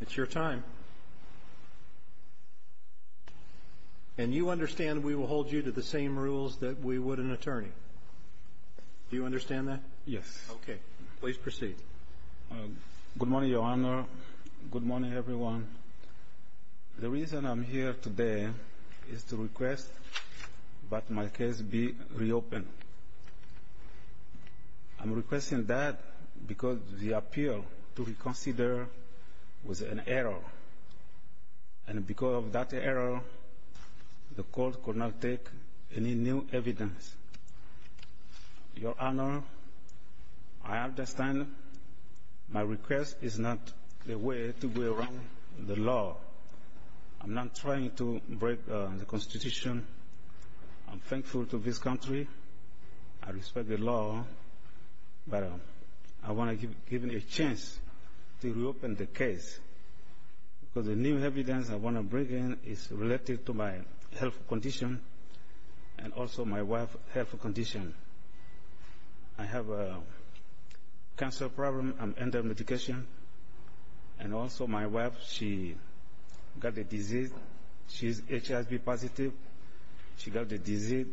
It's your time. And you understand we will hold you to the same rules that we would an attorney? Do you understand that? Yes. Okay. Please proceed. Good morning, Your Honor. Good morning, everyone. The reason I'm here today is to request that my case be reopened. I'm requesting that because the appeal to reconsider was an error. And because of that error, the court could not take any new evidence. Your Honor, I understand my request is not the way to go around the law. I'm not trying to break the Constitution. I'm thankful to this country. I respect the law. But I want to give you a chance to reopen the case. Because the new evidence I want to bring in is related to my health condition and also my wife's health condition. I have a cancer problem. I'm under medication. And also my wife, she got the disease. She's HIV positive. She got the disease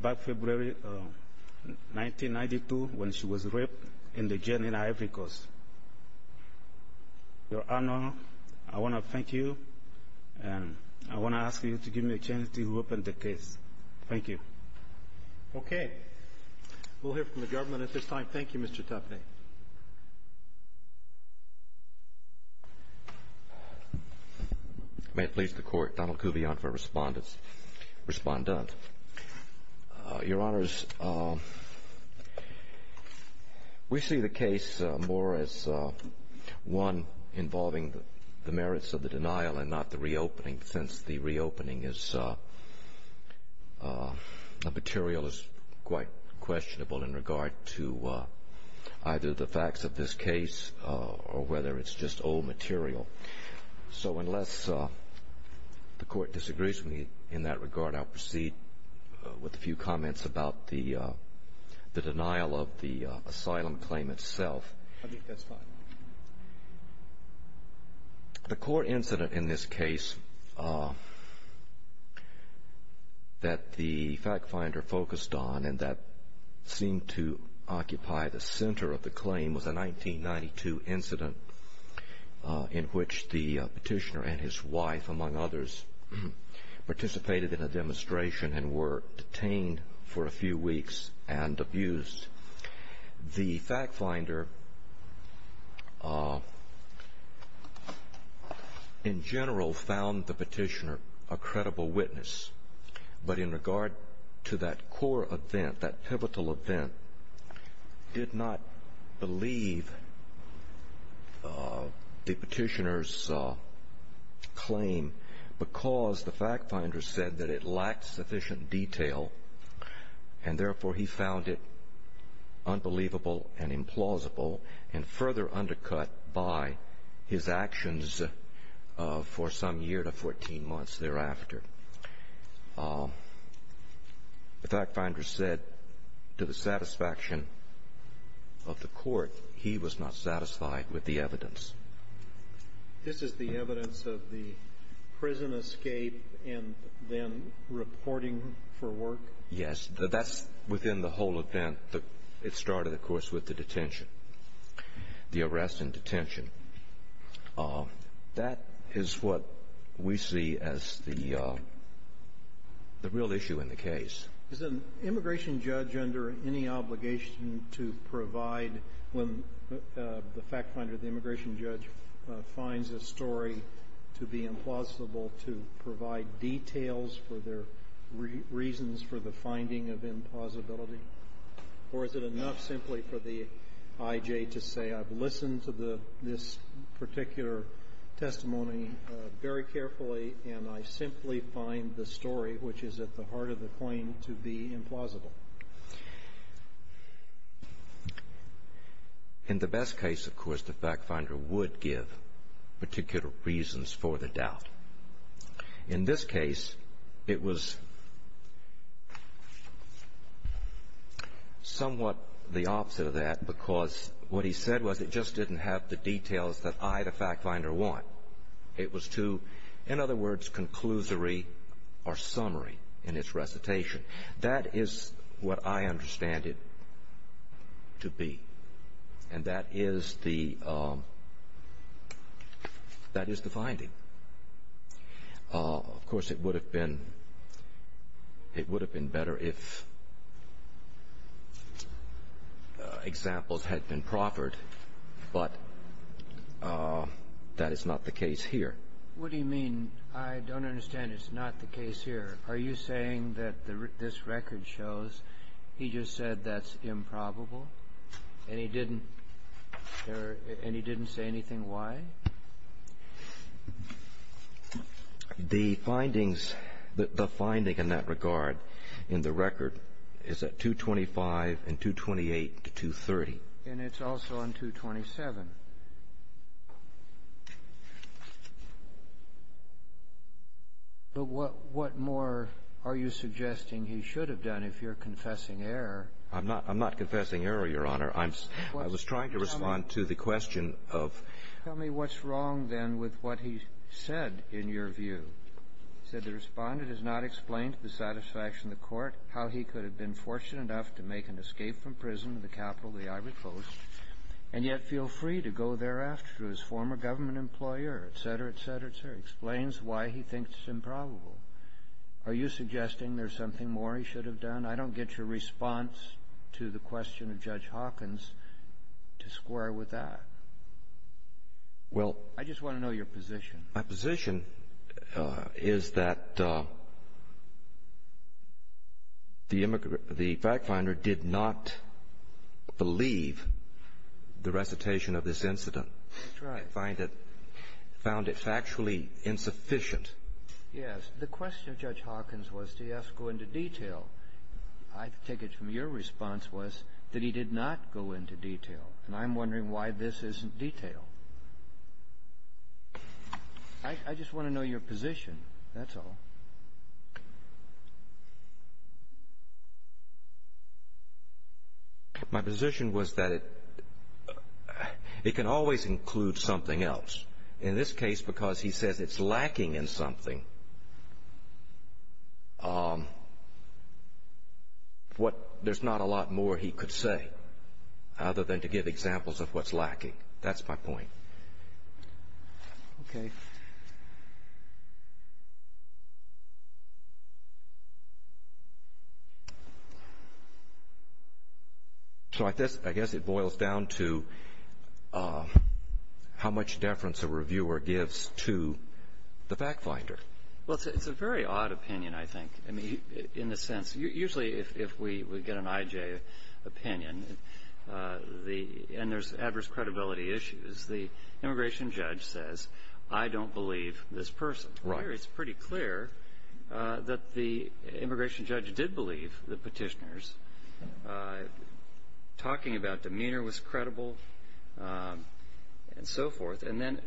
back February 1992 when she was raped in the Jenin Ivory Coast. Your Honor, I want to thank you. And I want to ask you to give me a chance to reopen the case. Thank you. Okay. We'll hear from the government at this time. Thank you, Mr. Taffney. Thank you, Mr. Taffney. May it please the Court, Donald Kuvion for Respondent. Your Honors, we see the case more as one involving the merits of the denial and not the reopening, since the reopening material is quite questionable in regard to either the facts of this case or whether it's just old material. So unless the Court disagrees with me in that regard, I'll proceed with a few comments about the denial of the asylum claim itself. I think that's fine. The core incident in this case that the FactFinder focused on and that seemed to occupy the center of the claim was a 1992 incident in which the petitioner and his wife, among others, participated in a demonstration and were detained for a few weeks and abused. The FactFinder in general found the petitioner a credible witness. But in regard to that core event, that pivotal event, did not believe the petitioner's claim because the FactFinder said that it lacked sufficient detail and therefore he found it unbelievable and implausible and further undercut by his actions for some year to 14 months thereafter. The FactFinder said, to the satisfaction of the Court, he was not satisfied with the evidence. This is the evidence of the prison escape and then reporting for work? Yes. That's within the whole event. It started, of course, with the detention, the arrest and detention. That is what we see as the real issue in the case. Is an immigration judge under any obligation to provide, when the FactFinder, the immigration judge, finds a story to be implausible, to provide details for their reasons for the finding of implausibility? Or is it enough simply for the IJ to say, I've listened to this particular testimony very carefully and I simply find the story, which is at the heart of the claim, to be implausible? In the best case, of course, the FactFinder would give particular reasons for the doubt. In this case, it was somewhat the opposite of that because what he said was it just didn't have the details that I, the FactFinder, want. It was too, in other words, conclusory or summary in its recitation. That is what I understand it to be and that is the finding. Of course, it would have been better if examples had been proffered, but that is not the case here. What do you mean, I don't understand, it's not the case here? Are you saying that this record shows he just said that's improbable and he didn't say anything why? The findings, the finding in that regard in the record is at 225 and 228 to 230. And it's also on 227. But what more are you suggesting he should have done if you're confessing error? I'm not confessing error, Your Honor. I was trying to respond to the question of tell me what's wrong then with what he said in your view. He said the respondent has not explained to the satisfaction of the court how he could have been fortunate enough to make an escape from prison in the capital of the Ivory Coast and yet feel free to go thereafter to his former government employer, etc., etc., etc. He explains why he thinks it's improbable. Are you suggesting there's something more he should have done? I don't get your response to the question of Judge Hawkins to square with that. Well I just want to know your position. My position is that the immigrant, the fact finder did not believe the recitation of this incident. That's right. He found it factually insufficient. Yes. The question of Judge Hawkins was did he have to go into detail. I take it from your response was that he did not go into detail. And I'm wondering why this isn't detail. I just want to know your position. That's all. My position was that it can always include something else. In this case, because he says it's lacking in something, there's not a lot more he could say other than to give examples of what's lacking. That's my point. Okay. So I guess it boils down to how much deference a reviewer gives to the fact finder. Well, it's a very odd opinion, I think. I mean, in the sense, usually if we get an IJ opinion, and there's adverse credibility issues, the immigration judge says, I don't believe this person. Right. Here, it's pretty clear that the immigration judge did believe the Petitioners. Talking about demeanor was credible and so forth. And then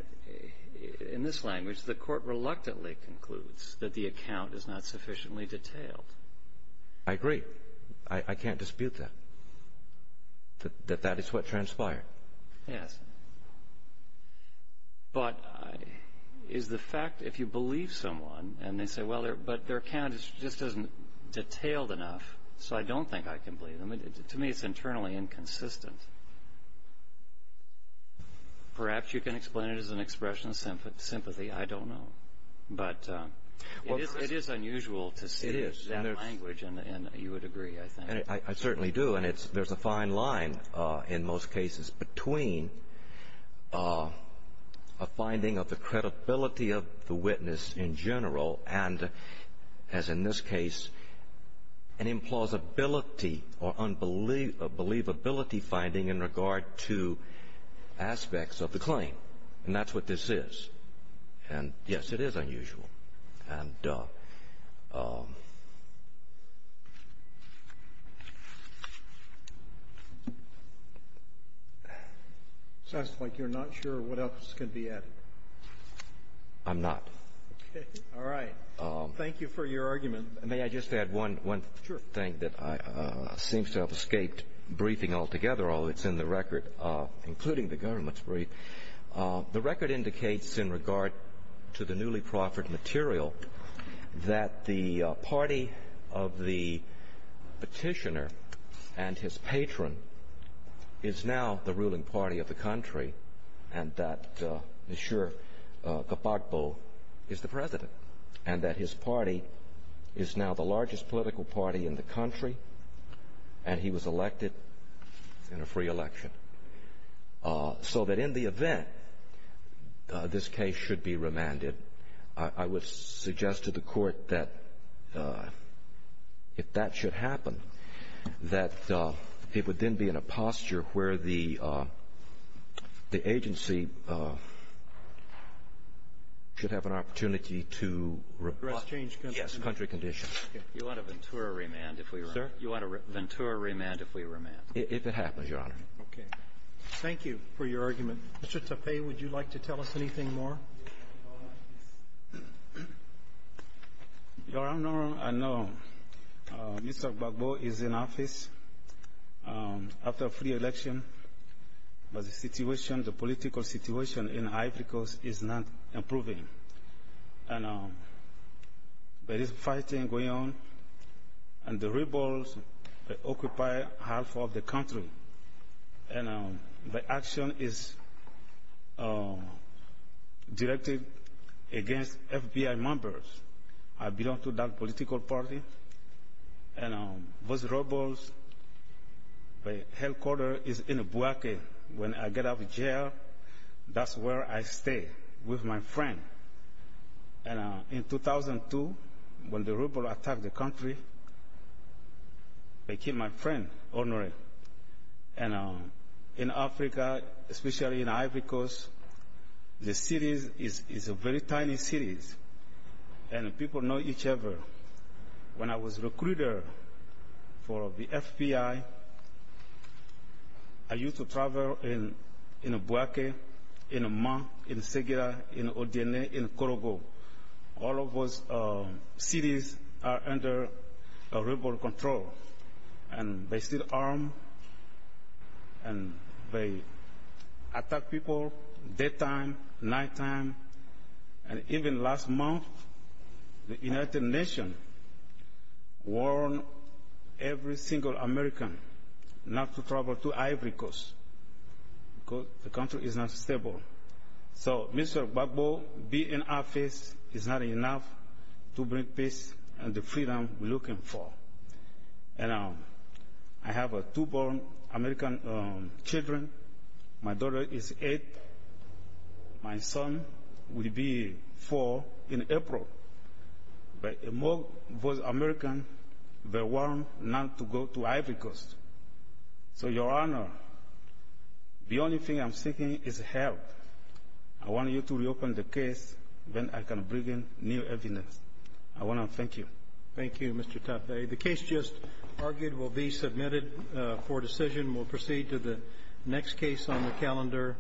in this language, the Court reluctantly concludes that the account is not sufficiently detailed. I agree. I can't dispute that, that that is what transpired. Yes. But is the fact if you believe someone and they say, well, but their account just isn't detailed enough, so I don't think I can believe them. To me, it's internally inconsistent. Perhaps you can explain it as an expression of sympathy. I don't know. But it is unusual to see that language, and you would agree, I think. I certainly do. And there's a fine line in most cases between a finding of the credibility of the witness in general and, as in this case, an implausibility or a believability finding in regard to aspects of the claim. And that's what this is. And, yes, it is unusual. It sounds like you're not sure what else can be added. I'm not. Okay. All right. Thank you for your argument. May I just add one thing that seems to have escaped briefing altogether, although it's in the record, including the government's brief? The record indicates in regard to the newly proffered material that the party of the petitioner and his patron is now the ruling party of the country and that Mr. Gbagbo is the president and that his party is now the largest political party in the country and he was elected in a free election. So that in the event this case should be remanded, I would suggest to the Court that if that should happen, that it would then be in a posture where the agency should have an opportunity to request country conditions. You want a Ventura remand if we remand? Sir? You want a Ventura remand if we remand? If it happens, Your Honor. Okay. Thank you for your argument. Mr. Tepe, would you like to tell us anything more? Your Honor, I know Mr. Gbagbo is in office after a free election, but the situation, the political situation in Africa is not improving. There is fighting going on and the rebels occupy half of the country and the action is directed against FBI members. I belong to that political party and those rebels, the headquarter is in Buake. When I get out of jail, that's where I stay with my friend. And in 2002, when the rebels attacked the country, they killed my friend, Honoré. And in Africa, especially in Ivory Coast, the cities are very tiny cities and people know each other. When I was a recruiter for the FBI, I used to travel in Buake, in Amman, in Segura, in Odena, in Korogo. All of those cities are under rebel control and they still arm and they attack people daytime, nighttime. And even last month, the United Nations warned every single American not to travel to Ivory Coast because the country is not stable. So, Mr. Gbagbo, being in office is not enough to bring peace and the freedom we're looking for. And I have two born American children. My daughter is eight. My son will be four in April. But most of those Americans, they want not to go to Ivory Coast. So, Your Honor, the only thing I'm seeking is help. I want you to reopen the case, then I can bring in new evidence. I want to thank you. Thank you, Mr. Tapé. The case just argued will be submitted for decision. We'll proceed to the next case on the calendar.